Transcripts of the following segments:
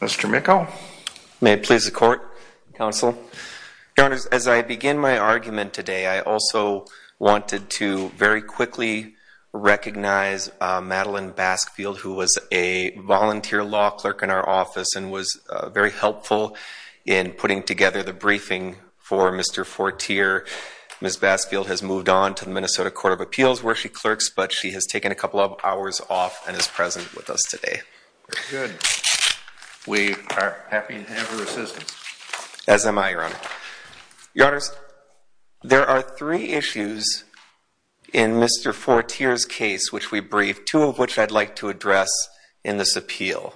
Mr. Micco. May it please the court, counsel. Counselors, as I begin my argument today, I also wanted to very quickly recognize Madeline Baskfield, who was a volunteer law clerk in our office and was very helpful in putting together the briefing for Mr. Fortier. Ms. Baskfield has moved on to the Minnesota Court of Appeals where she clerks, but she has taken a couple of hours off and is present with us today. Very good. We are happy to have her assistance. As am I, Your Honor. Your Honors, there are three issues in Mr. Fortier's case which we briefed, two of which I'd like to address in this appeal.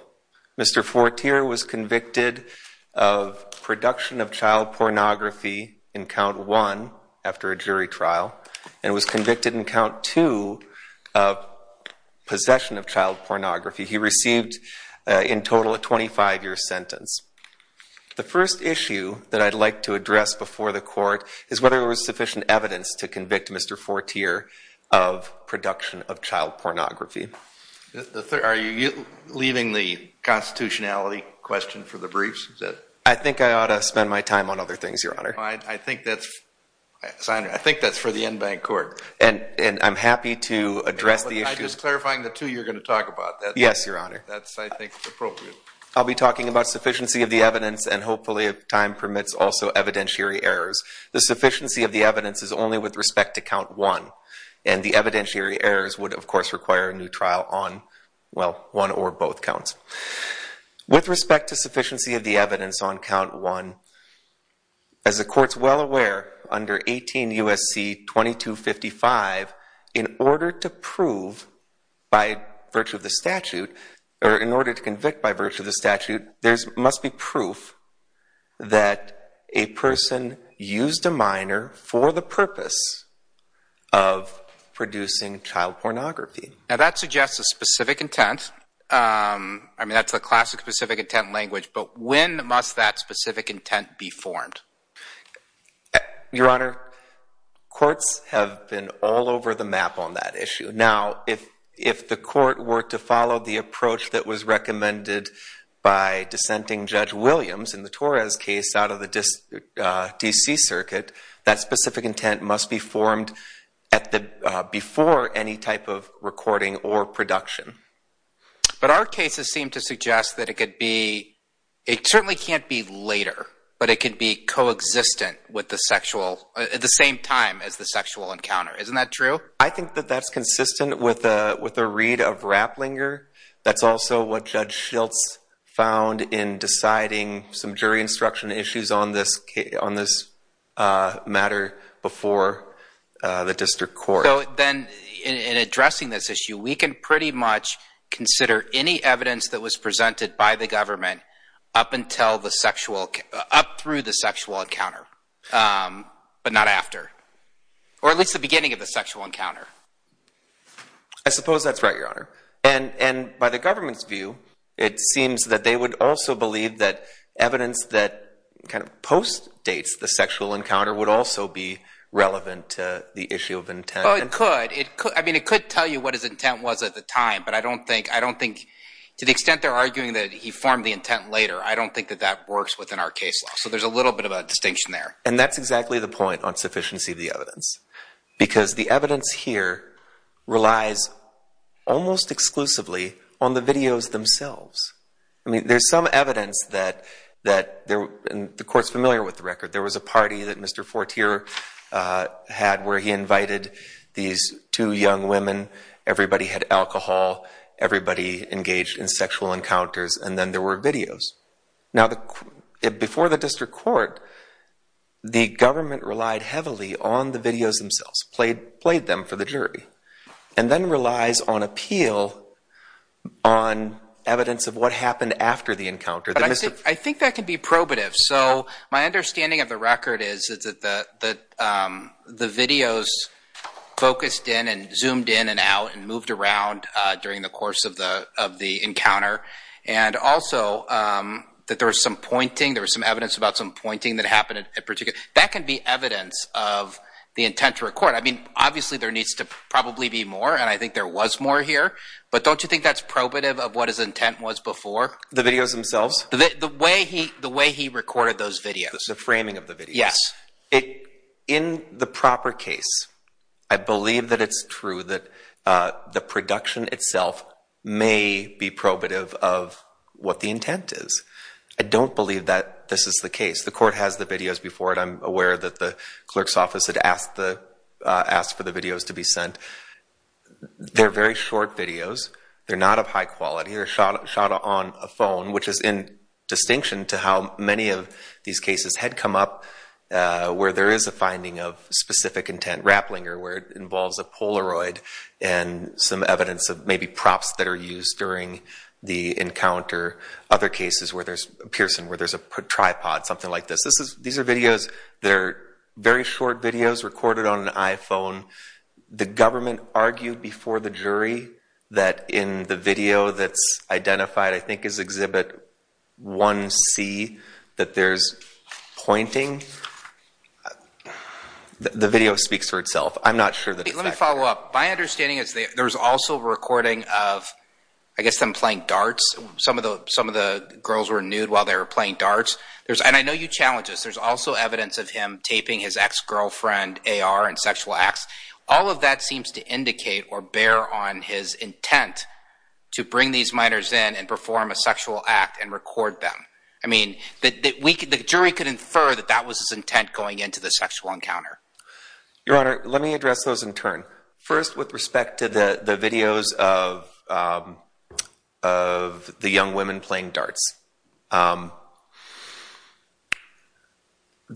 Mr. Fortier was convicted of production of child pornography in count one after a jury trial and was convicted in count two of possession of child pornography. He received in total a 25-year sentence. The first issue that I'd like to address before the court is whether there was sufficient evidence to convict Mr. Fortier of production of child pornography. Are you leaving the constitutionality question for the briefs? I think I ought to spend my time on other things, Your Honor. I think that's for the en banc court. And I'm happy to address the issue. Just clarifying the two, you're going to talk about that? Yes, Your Honor. That's, I think, appropriate. I'll be talking about sufficiency of the evidence and hopefully if time permits, also evidentiary errors. The sufficiency of the evidence is only with respect to count one and the evidentiary errors would, of course, require a new trial on, well, one or both counts. With respect to sufficiency of the evidence on count one, as the court's well aware, under 18 U.S.C. 2255, in order to prove by virtue of the statute, or in order to convict by purpose of producing child pornography. Now that suggests a specific intent. I mean, that's a classic specific intent language, but when must that specific intent be formed? Your Honor, courts have been all over the map on that issue. Now, if the court were to follow the approach that was recommended by dissenting Judge Williams in the Torres case out of the D.C. Circuit, that specific intent must be formed before any type of recording or production. But our cases seem to suggest that it could be, it certainly can't be later, but it could be coexistent with the sexual, at the same time as the sexual encounter. Isn't that true? I think that that's consistent with a read of Rapplinger. That's also what Judge Schiltz found in deciding some jury instruction issues on this case, on this matter before the district court. So then, in addressing this issue, we can pretty much consider any evidence that was presented by the government up until the sexual, up through the sexual encounter, but not after, or at least the beginning of the sexual encounter. I suppose that's right, Your Honor. And by the government's view, it seems that they would also believe that evidence that kind of post-dates the sexual encounter would also be relevant to the issue of intent. Well, it could. I mean, it could tell you what his intent was at the time, but I don't think, I don't think, to the extent they're arguing that he formed the intent later, I don't think that that works within our case law. So there's a little bit of a distinction there. And that's exactly the point on sufficiency of the evidence, because the evidence here relies almost exclusively on the videos themselves. I mean, there's some evidence that, and the Court's familiar with the record, there was a party that Mr. Fortier had where he invited these two young women, everybody had alcohol, everybody engaged in sexual encounters, and then there were videos. Now, before the District Court, the government relied heavily on the videos themselves, played them for the jury, and then relies on appeal on evidence of what happened after the encounter. I think that could be probative. So my understanding of the record is that the videos focused in and zoomed in and out and moved around during the course of the encounter, and also that there was some pointing, there was some evidence about some pointing that happened at a particular time. That can be evidence of the intent to record. I mean, obviously there needs to probably be more, and I think there was more here, but don't you think that's probative of what his intent was before? The videos themselves? The way he recorded those videos. The framing of the videos? Yes. In the proper case, I believe that it's true that the production itself may be probative of what the intent is. I don't believe that this is the case. The court has the videos before it. I'm aware that the clerk's office had asked for the videos to be sent. They're very short videos. They're not of high quality. They're shot on a phone, which is in distinction to how many of these cases had come up where there is a finding of specific intent, rappling, or where it involves a Polaroid and some evidence of maybe props that are used during the encounter. Other cases where there's a person, where there's a tripod, something like this. These are videos. They're very short videos recorded on an iPhone. The government argued before the jury that in the video that's identified, I think is Exhibit 1C, that there's pointing. The video speaks for itself. I'm not sure that it's accurate. Let me follow up. My understanding is there's also recording of, I guess, them playing darts. Some of the girls were nude while they were playing darts. And I know you challenge this. There's also evidence of him taping his ex-girlfriend AR and sexual acts. All of that seems to indicate or bear on his intent to bring these minors in and perform a sexual act and record them. The jury could infer that that was his intent going into the sexual encounter. Your Honor, let me address those in turn. First, with respect to the videos of the young women playing darts, the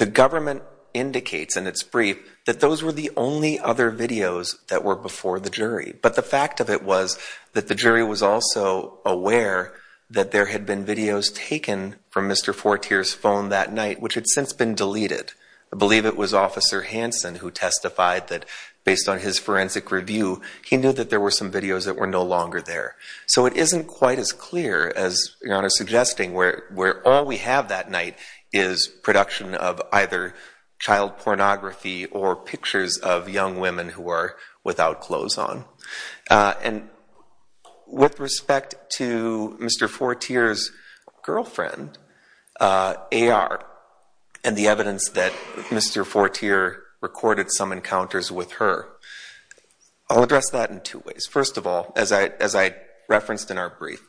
government indicates in its brief that those were the only other videos that were before the jury. But the fact of it was that the jury was also aware that there had been videos taken from Mr. Fortier's phone that night, which had since been deleted. I believe it was Officer Hansen who testified that based on his forensic review, he knew that there were some videos that were no longer there. So it isn't quite as clear as Your Honor suggesting where all we have that night is production of either child pornography or pictures of young women who were without clothes on. And with respect to Mr. Fortier's girlfriend, AR, and the evidence that Mr. Fortier recorded some encounters with her, I'll address that in two ways. First of all, as I referenced in our brief,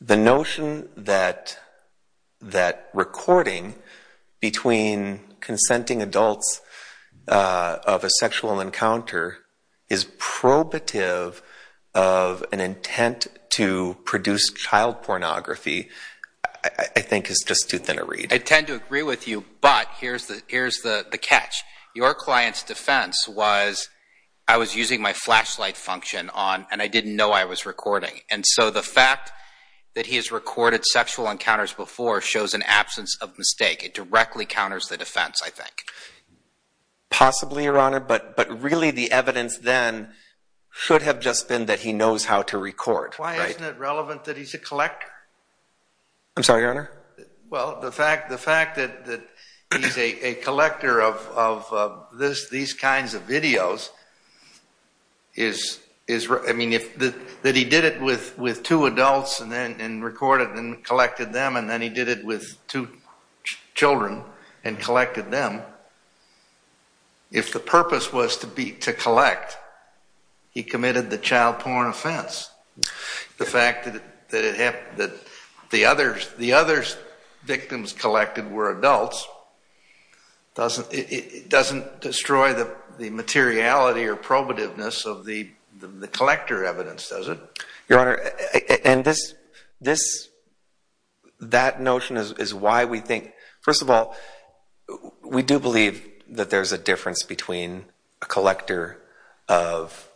the notion that recording between consenting adults of a sexual encounter is probative of an intent to produce child pornography, I think is just too thin a read. I tend to agree with you, but here's the catch. Your client's defense was, I was using my flashlight function on, and I didn't know I was recording. And so the fact that he has recorded sexual encounters before shows an absence of defense, I think. Possibly, Your Honor, but really the evidence then should have just been that he knows how to record. Why isn't it relevant that he's a collector? I'm sorry, Your Honor? Well, the fact that he's a collector of these kinds of videos is, I mean, that he did it with two adults and recorded and collected them, and then he did it with two children and collected them. If the purpose was to collect, he committed the child porn offense. The fact that the other victims collected were adults doesn't destroy the materiality or probativeness of the collector evidence, does it? Your Honor, and that notion is why we think, first of all, we do believe that there's a difference between a collector of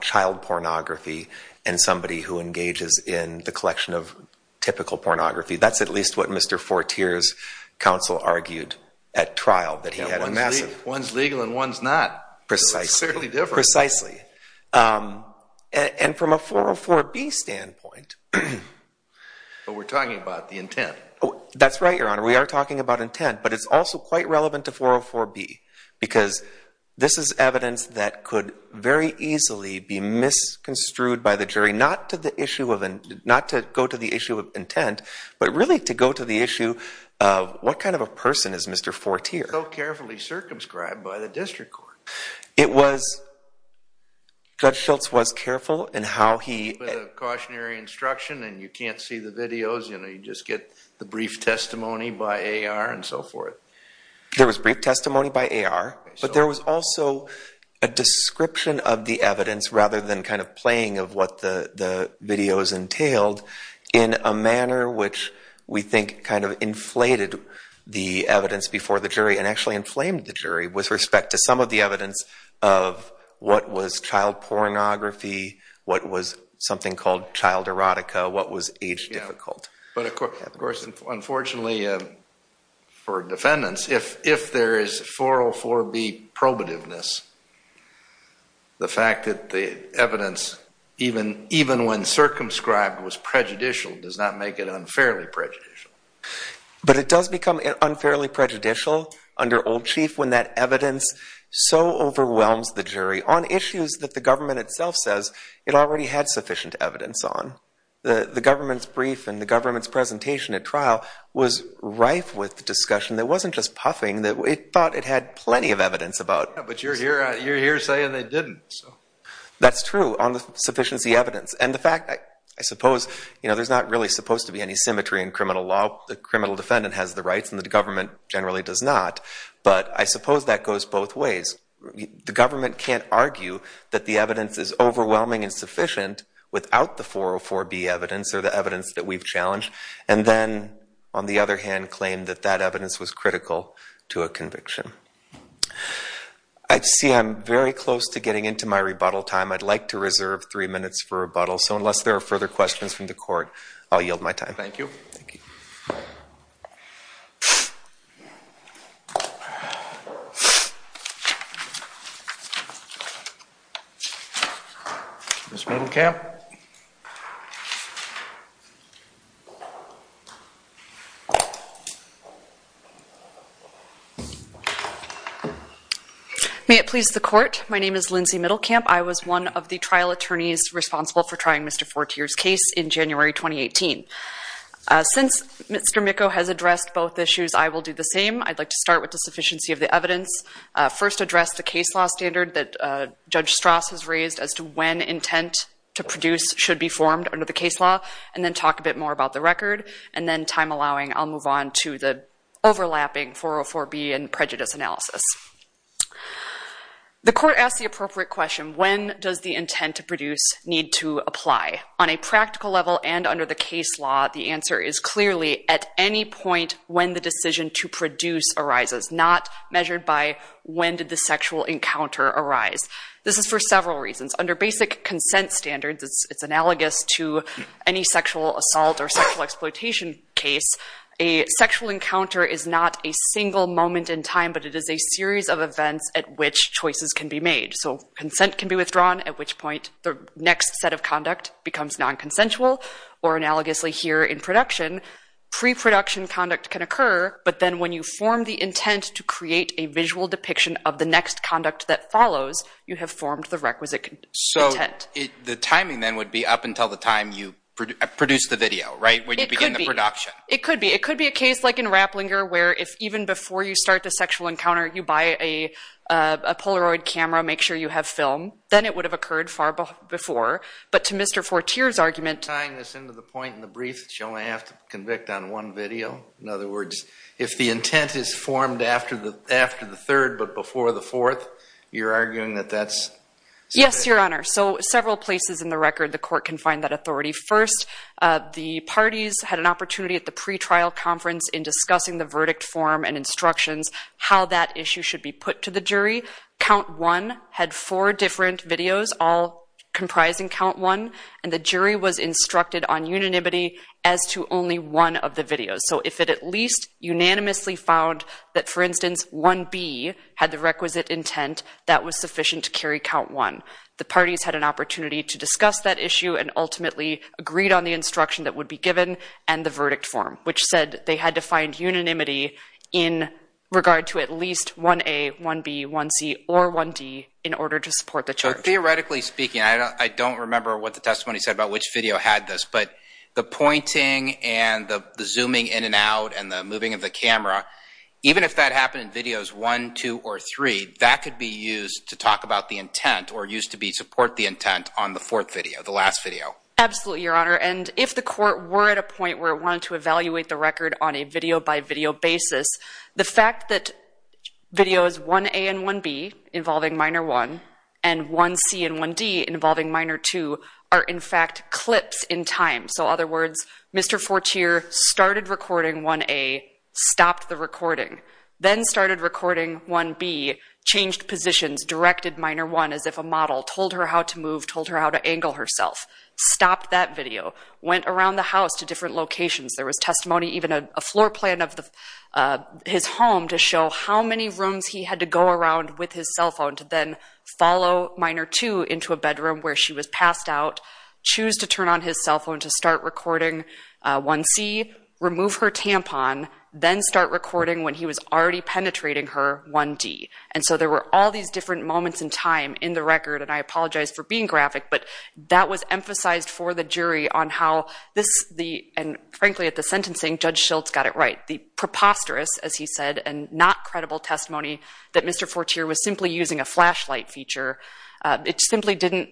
child pornography and somebody who engages in the collection of typical pornography. That's at least what Mr. Fortier's counsel argued at trial, that he had a massive... One's legal and one's not. Precisely. So it's fairly different. Precisely. And from a 404B standpoint... But we're talking about the intent. That's right, Your Honor. We are talking about intent, but it's also quite relevant to 404B, because this is evidence that could very easily be misconstrued by the jury, not to go to the issue of intent, but really to go to the issue of what kind of a person is Mr. Fortier. So carefully circumscribed by the district court. It was... Judge Schultz was careful in how he... With a cautionary instruction and you can't see the videos, you know, you just get the brief testimony by AR and so forth. There was brief testimony by AR, but there was also a description of the evidence rather than kind of playing of what the videos entailed in a manner which we think kind of inflated the evidence before the jury and actually inflamed the jury with respect to some of the evidence of what was child pornography, what was something called child erotica, what was age difficult. But of course, unfortunately for defendants, if there is 404B probativeness, the fact that the evidence, even when circumscribed, was prejudicial, does not make it unfairly prejudicial. But it does become unfairly prejudicial under Old Chief when that evidence so overwhelms the jury on issues that the government itself says it already had sufficient evidence on. The government's brief and the government's presentation at trial was rife with discussion that wasn't just puffing. It thought it had plenty of evidence about... But you're here saying they didn't. That's true, on the sufficiency evidence. And the fact, I suppose, there's not really supposed to be any symmetry in criminal law. The criminal defendant has the rights and the government generally does not. But I suppose that goes both ways. The government can't argue that the evidence is overwhelming and sufficient without the 404B evidence or the evidence that we've challenged. And then, on the other hand, claim that that evidence was critical to a conviction. I see I'm very close to getting into my rebuttal time. I'd like to reserve three minutes for rebuttal. So unless there are further questions from the court, I'll yield my time. Thank you. Ms. Middlecamp? May it please the court? My name is Lindsay Middlecamp. I was one of the trial attorneys responsible for trying Mr. Fortier's case in January 2018. Since Mr. Micco has addressed both issues, I will do the same. I'd like to start with the sufficiency of the evidence. First, address the case law standard that Judge Strass has raised as to when intent to produce should be formed under the case law. And then talk a bit more about the record. And then, time allowing, I'll move on to the overlapping 404B and prejudice analysis. The court asked the appropriate question, when does the intent to produce need to apply? On a practical level and under the case law, the answer is clearly at any point when the decision to produce arises, not measured by when did the sexual encounter arise. This is for several reasons. Under basic consent standards, it's analogous to any sexual assault or sexual exploitation case. A sexual encounter is not a single moment in time, but it is a series of events at which choices can be made. So, consent can be withdrawn, at which point the next set of conduct becomes non-consensual. Or analogously here in production, pre-production conduct can occur, but then when you form the intent to create a visual depiction of the next conduct that follows, you have formed the requisite intent. So, the timing then would be up until the time you produce the video, right? It could be. It could be. It could be a case like in Rapplinger where if even before you start the sexual encounter, you buy a Polaroid camera, make sure you have film, then it would have occurred far before. But to Mr. Fortier's argument… Tying this into the point in the brief that you only have to convict on one video, in other words, if the intent is formed after the third but before the fourth, you're arguing that that's… Yes, Your Honor. So, several places in the record the court can find that authority. First, the parties had an opportunity at the pretrial conference in discussing the verdict form and instructions how that issue should be put to the jury. Count 1 had four different videos, all comprising Count 1, and the jury was instructed on unanimity as to only one of the videos. So, if it at least unanimously found that, for instance, 1B had the requisite intent, that was sufficient to carry Count 1. The parties had an opportunity to discuss that issue and ultimately agreed on the instruction that would be given and the verdict form, which said they had to find unanimity in regard to at least 1A, 1B, 1C, or 1D in order to support the charge. So, theoretically speaking, I don't remember what the testimony said about which video had this, but the pointing and the zooming in and out and the moving of the camera, even if that happened in videos 1, 2, or 3, that could be used to talk about the intent or used to support the intent on the fourth video, the last video. Absolutely, Your Honor. And if the court were at a point where it wanted to evaluate the record on a video-by-video basis, the fact that videos 1A and 1B, involving Minor 1, and 1C and 1D, involving Minor 2, are in fact clips in time. So, in other words, Mr. Fortier started recording 1A, stopped the recording, then started recording 1B, changed positions, directed Minor 1 as if a model, told her how to move, told her how to angle herself, stopped that video, went around the house to different locations. There was testimony, even a floor plan of his home, to show how many rooms he had to go around with his cell phone to then follow Minor 2 into a bedroom where she was passed out, choose to turn on his cell phone to start recording 1C, remove her tampon, then start recording, when he was already penetrating her, 1D. And so there were all these different moments in time in the record, and I apologize for being graphic, but that was emphasized for the jury on how this, and frankly at the sentencing, Judge Schultz got it right. The preposterous, as he said, and not credible testimony that Mr. Fortier was simply using a flashlight feature, it simply didn't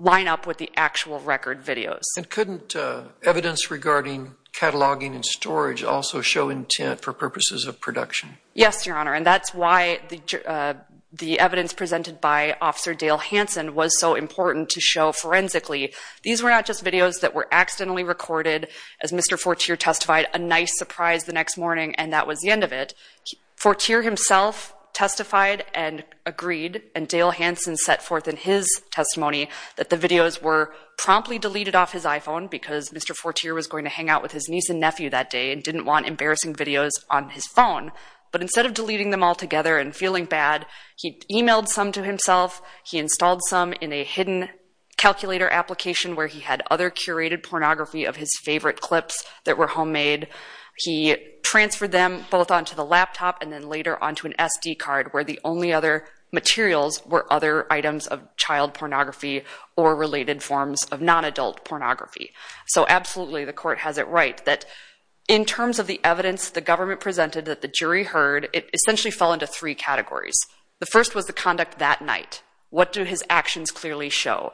line up with the actual record videos. And couldn't evidence regarding cataloging and storage also show intent for purposes of production? Yes, Your Honor, and that's why the evidence presented by Officer Dale Hanson was so important to show forensically. These were not just videos that were accidentally recorded, as Mr. Fortier testified, a nice surprise the next morning, and that was the end of it. Fortier himself testified and agreed, and Dale Hanson set forth in his testimony, that the videos were promptly deleted off his iPhone, because Mr. Fortier was going to hang out with his niece and nephew that day, and didn't want embarrassing videos on his phone. But instead of deleting them all together and feeling bad, he emailed some to himself, he installed some in a hidden calculator application where he had other curated pornography of his favorite clips that were homemade. He transferred them both onto the laptop and then later onto an SD card, where the only other materials were other items of child pornography or related forms of non-adult pornography. So absolutely, the court has it right that in terms of the evidence the government presented that the jury heard, it essentially fell into three categories. The first was the conduct that night. What do his actions clearly show?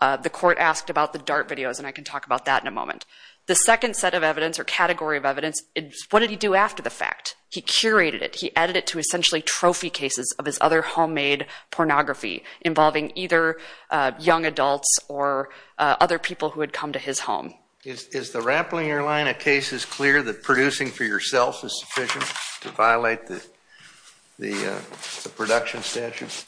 The court asked about the DART videos, and I can talk about that in a moment. The second set of evidence or category of evidence, what did he do after the fact? He curated it. He added it to essentially trophy cases of his other homemade pornography, involving either young adults or other people who had come to his home. Is the Rapplinger line of cases clear that producing for yourself is sufficient to violate the production statute?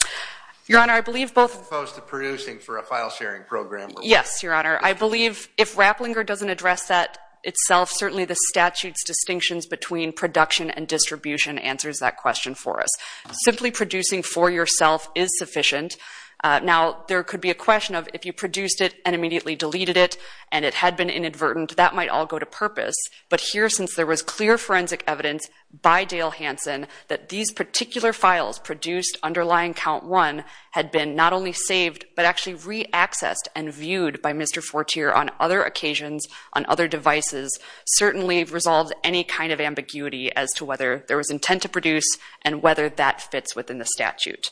Your Honor, I believe both... As opposed to producing for a file-sharing program. Yes, Your Honor. I believe if Rapplinger doesn't address that itself, certainly the statute's distinctions between production and distribution answers that question for us. Simply producing for yourself is sufficient. Now, there could be a question of if you produced it and immediately deleted it and it had been inadvertent, that might all go to purpose. But here, since there was clear forensic evidence by Dale Hanson that these particular files produced underlying count one had been not only saved but actually re-accessed and viewed by Mr. Fortier on other occasions, on other devices, certainly resolves any kind of ambiguity as to whether there was intent to produce and whether that fits within the statute.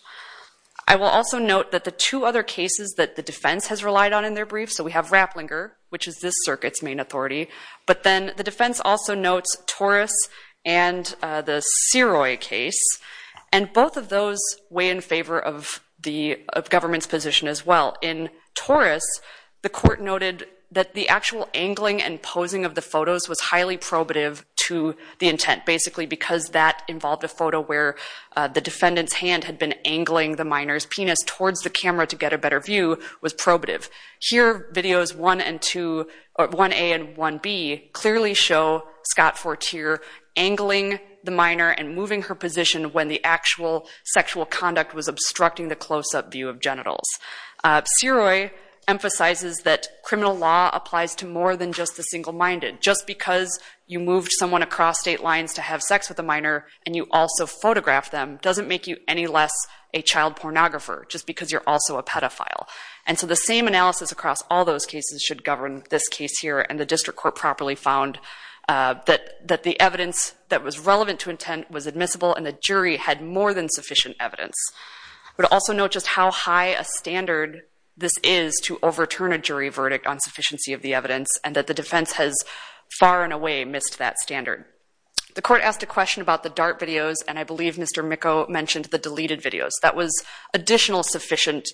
I will also note that the two other cases that the defense has relied on in their briefs, so we have Rapplinger, which is this circuit's main authority, but then the defense also notes Torres and the Siroy case, and both of those weigh in favor of the government's position as well. In Torres, the court noted that the actual angling and posing of the photos was highly probative to the intent, basically because that involved a photo where the defendant's hand had been angling the minor's penis towards the camera to get a better view was probative. Here, videos 1A and 1B clearly show Scott Fortier angling the minor and moving her position when the actual sexual conduct was obstructing the close-up view of genitals. Siroy emphasizes that criminal law applies to more than just the single-minded. Just because you moved someone across state lines to have sex with a minor and you also photographed them doesn't make you any less a child pornographer, just because you're also a pedophile. And so the same analysis across all those cases should govern this case here, and the district court properly found that the evidence that was relevant to intent was admissible and the jury had more than sufficient evidence. I would also note just how high a standard this is to overturn a jury verdict on sufficiency of the evidence and that the defense has far and away missed that standard. The court asked a question about the DART videos, and I believe Mr. Micco mentioned the deleted videos. That was additional sufficient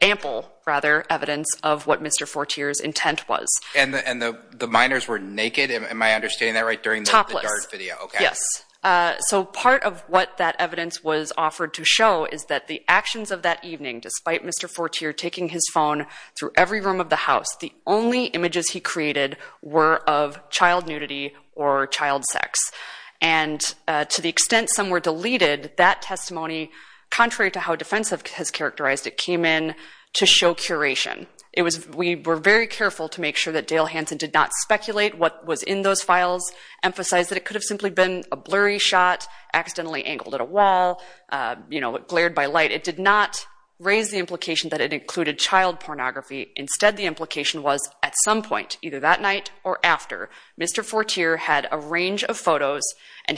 ample, rather, evidence of what Mr. Fortier's intent was. And the minors were naked, am I understanding that right, during the DART video? Topless, yes. So part of what that evidence was offered to show is that the actions of that evening, despite Mr. Fortier taking his phone through every room of the house, the only images he created were of child nudity or child sex. And to the extent some were deleted, that testimony, contrary to how defense has characterized it, came in to show curation. We were very careful to make sure that Dale Hanson did not speculate what was in those files, emphasize that it could have simply been a blurry shot, accidentally angled at a wall, you know, glared by light. It did not raise the implication that it included child pornography. Instead, the implication was at some point, either that night or after, Mr. Fortier had a range of photos or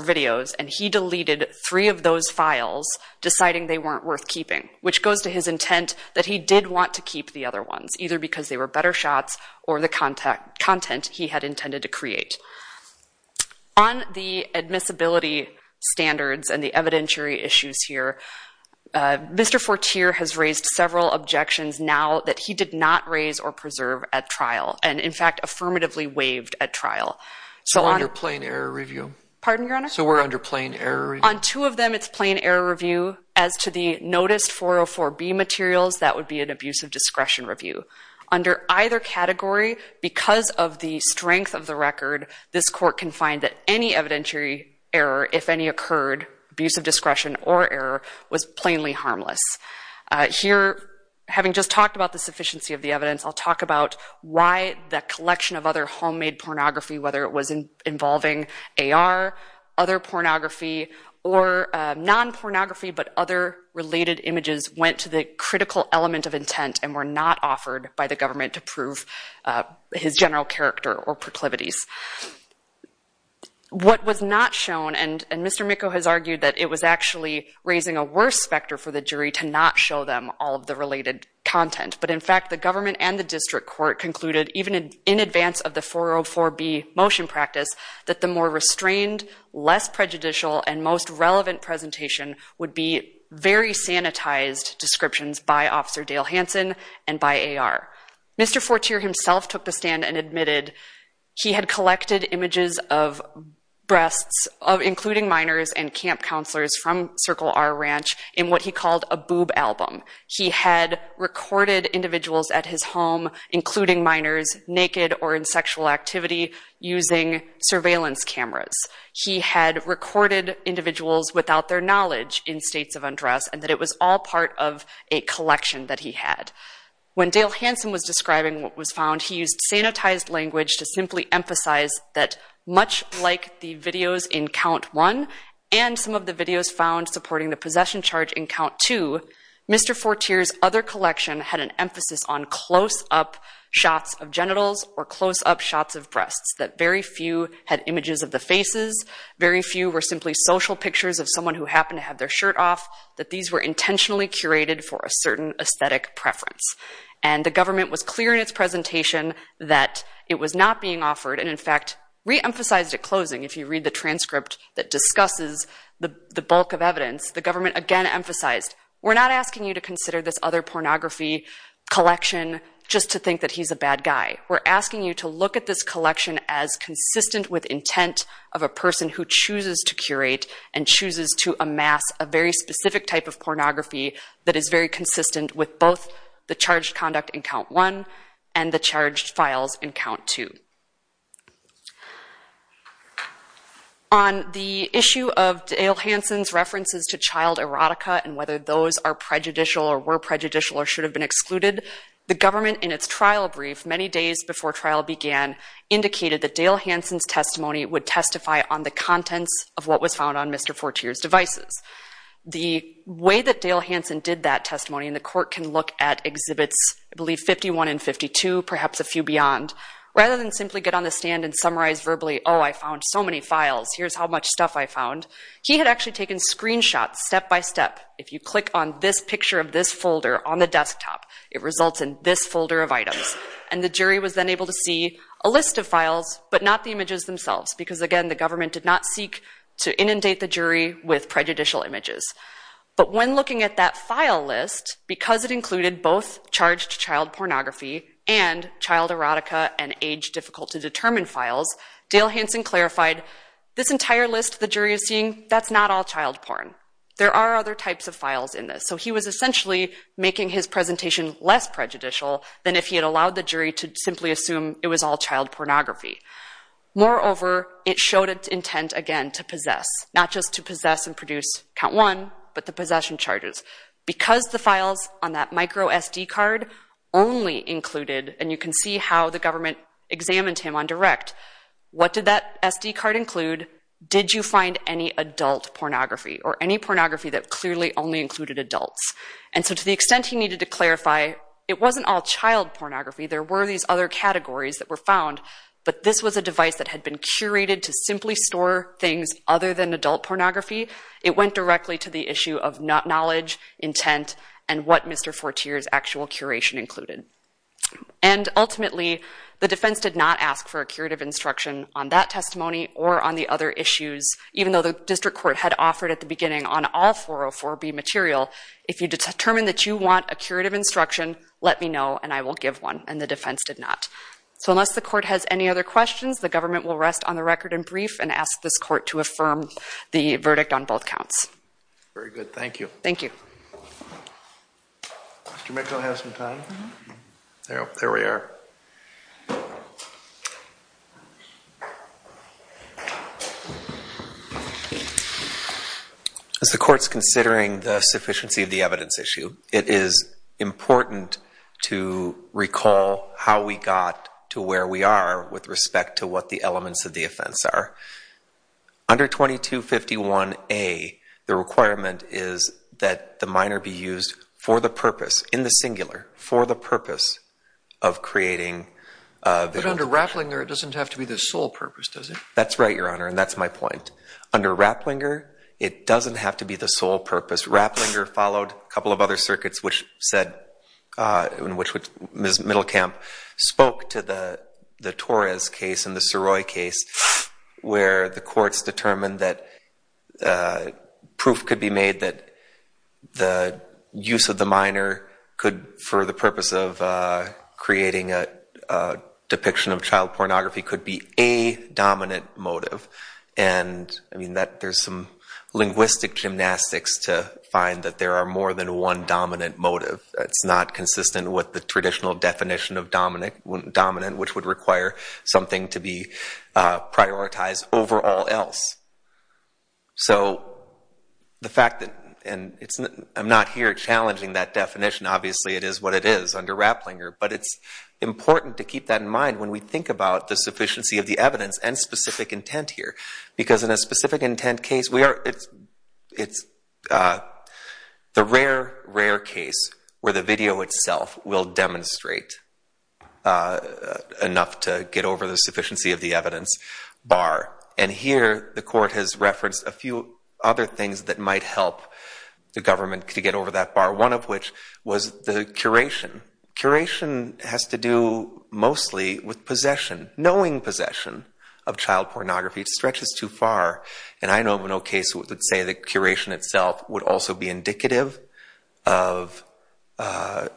videos, and he deleted three of those files, deciding they weren't worth keeping, which goes to his intent that he did want to keep the other ones, either because they were better shots or the content he had intended to create. On the admissibility standards and the evidentiary issues here, Mr. Fortier has raised several objections now that he did not raise or preserve at trial, and, in fact, affirmatively waived at trial. So under plain error review? Pardon, Your Honor? So we're under plain error review? On two of them, it's plain error review. As to the noticed 404B materials, that would be an abuse of discretion review. Under either category, because of the strength of the record, this Court can find that any evidentiary error, if any occurred, abuse of discretion or error, was plainly harmless. Here, having just talked about the sufficiency of the evidence, I'll talk about why that collection of other homemade pornography, whether it was involving AR, other pornography, or non-pornography but other related images, went to the critical element of intent and were not offered by the government to prove his general character or proclivities. What was not shown, and Mr. Mikko has argued that it was actually raising a worse specter for the jury to not show them all of the related content, but in fact the government and the district court concluded, even in advance of the 404B motion practice, that the more restrained, less prejudicial, and most relevant presentation would be very sanitized descriptions by Officer Dale Hansen and by AR. Mr. Fortier himself took the stand and admitted he had collected images of breasts, including minors and camp counselors from Circle R Ranch, in what he called a boob album. He had recorded individuals at his home, including minors, naked or in sexual activity using surveillance cameras. He had recorded individuals without their knowledge in states of undress and that it was all part of a collection that he had. When Dale Hansen was describing what was found, he used sanitized language to simply emphasize that, much like the videos in Count 1 and some of the videos found supporting the possession charge in Count 2, Mr. Fortier's other collection had an emphasis on close-up shots of genitals or close-up shots of breasts, that very few had images of the faces, very few were simply social pictures of someone who happened to have their shirt off, that these were intentionally curated for a certain aesthetic preference. And the government was clear in its presentation that it was not being offered, and in fact reemphasized at closing, if you read the transcript that discusses the bulk of evidence, the government again emphasized, we're not asking you to consider this other pornography collection just to think that he's a bad guy. We're asking you to look at this collection as consistent with intent of a person who chooses to curate and chooses to amass a very specific type of pornography that is very consistent with both the charged conduct in Count 1 and the charged files in Count 2. On the issue of Dale Hansen's references to child erotica and whether those are prejudicial or were prejudicial or should have been excluded, the government in its trial brief many days before trial began indicated that Dale Hansen's testimony would testify on the contents of what was found on Mr. Fortier's devices. The way that Dale Hansen did that testimony, and the court can look at exhibits, I believe 51 and 52, perhaps a few beyond, rather than simply get on the stand and summarize verbally, he had actually taken screenshots step-by-step. If you click on this picture of this folder on the desktop, it results in this folder of items. And the jury was then able to see a list of files but not the images themselves because, again, the government did not seek to inundate the jury with prejudicial images. But when looking at that file list, because it included both charged child pornography and child erotica and age-difficult-to-determine files, Dale Hansen clarified, this entire list the jury is seeing, that's not all child porn. There are other types of files in this. So he was essentially making his presentation less prejudicial than if he had allowed the jury to simply assume it was all child pornography. Moreover, it showed its intent, again, to possess, not just to possess and produce count one, but the possession charges. Because the files on that micro SD card only included, and you can see how the government examined him on direct, what did that SD card include? Did you find any adult pornography or any pornography that clearly only included adults? And so to the extent he needed to clarify, it wasn't all child pornography. There were these other categories that were found. But this was a device that had been curated to simply store things other than adult pornography. It went directly to the issue of knowledge, intent, and what Mr. Fortier's actual curation included. And ultimately, the defense did not ask for a curative instruction on that testimony or on the other issues, even though the district court had offered at the beginning on all 404B material, if you determine that you want a curative instruction, let me know and I will give one. And the defense did not. So unless the court has any other questions, the government will rest on the record and brief and ask this court to affirm the verdict on both counts. Very good. Thank you. Thank you. Mr. Mitchell, do you have some time? There we are. As the court's considering the sufficiency of the evidence issue, it is important to recall how we got to where we are with respect to what the elements of the offense are. Under 2251A, the requirement is that the minor be used for the purpose, in the singular, for the purpose of creating evidence. But under Rapplinger, it doesn't have to be the sole purpose, does it? That's right, Your Honor, and that's my point. Under Rapplinger, it doesn't have to be the sole purpose. Rapplinger followed a couple of other circuits in which Ms. Middlecamp spoke to the Torres case and the Saroy case where the courts determined that proof could be made that the use of the minor could, for the purpose of creating a depiction of child pornography, could be a dominant motive. And, I mean, there's some linguistic gymnastics to find that there are more than one dominant motive. It's not consistent with the traditional definition of dominant, which would require something to be prioritized over all else. So the fact that, and I'm not here challenging that definition, obviously it is what it is under Rapplinger, but it's important to keep that in mind when we think about the sufficiency of the evidence and specific intent here. Because in a specific intent case, it's the rare, rare case where the video itself will demonstrate enough to get over the sufficiency of the evidence bar. And here the court has referenced a few other things that might help the government to get over that bar, one of which was the curation. Curation has to do mostly with possession, knowing possession of child pornography. It stretches too far. And I know of no case that would say that curation itself would also be indicative of a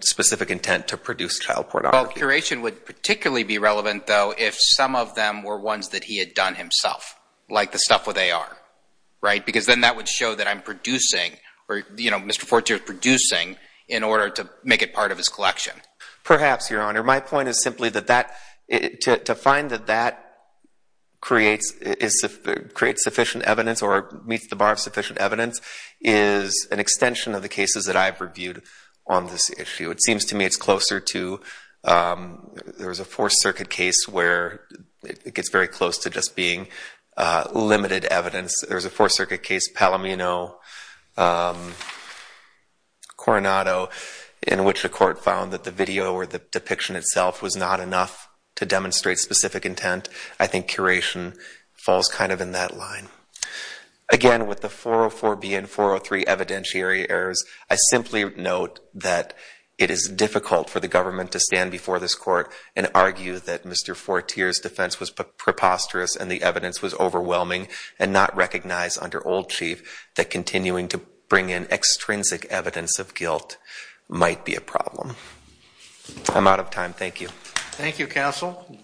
specific intent to produce child pornography. Well, curation would particularly be relevant, though, if some of them were ones that he had done himself, like the stuff with AR, right? Because then that would show that I'm producing, or, you know, Mr. Fortier is producing in order to make it part of his collection. Perhaps, Your Honor. My point is simply that to find that that creates sufficient evidence or meets the bar of sufficient evidence is an extension of the cases that I've reviewed on this issue. It seems to me it's closer to there was a Fourth Circuit case where it gets very close to just being limited evidence. There was a Fourth Circuit case, Palomino-Coronado, in which the court found that the video or the depiction itself was not enough to demonstrate specific intent. I think curation falls kind of in that line. Again, with the 404B and 403 evidentiary errors, I simply note that it is difficult for the government to stand before this court and argue that Mr. Fortier's defense was preposterous and the evidence was overwhelming and not recognized under old chief that might be a problem. I'm out of time. Thank you. Thank you, counsel.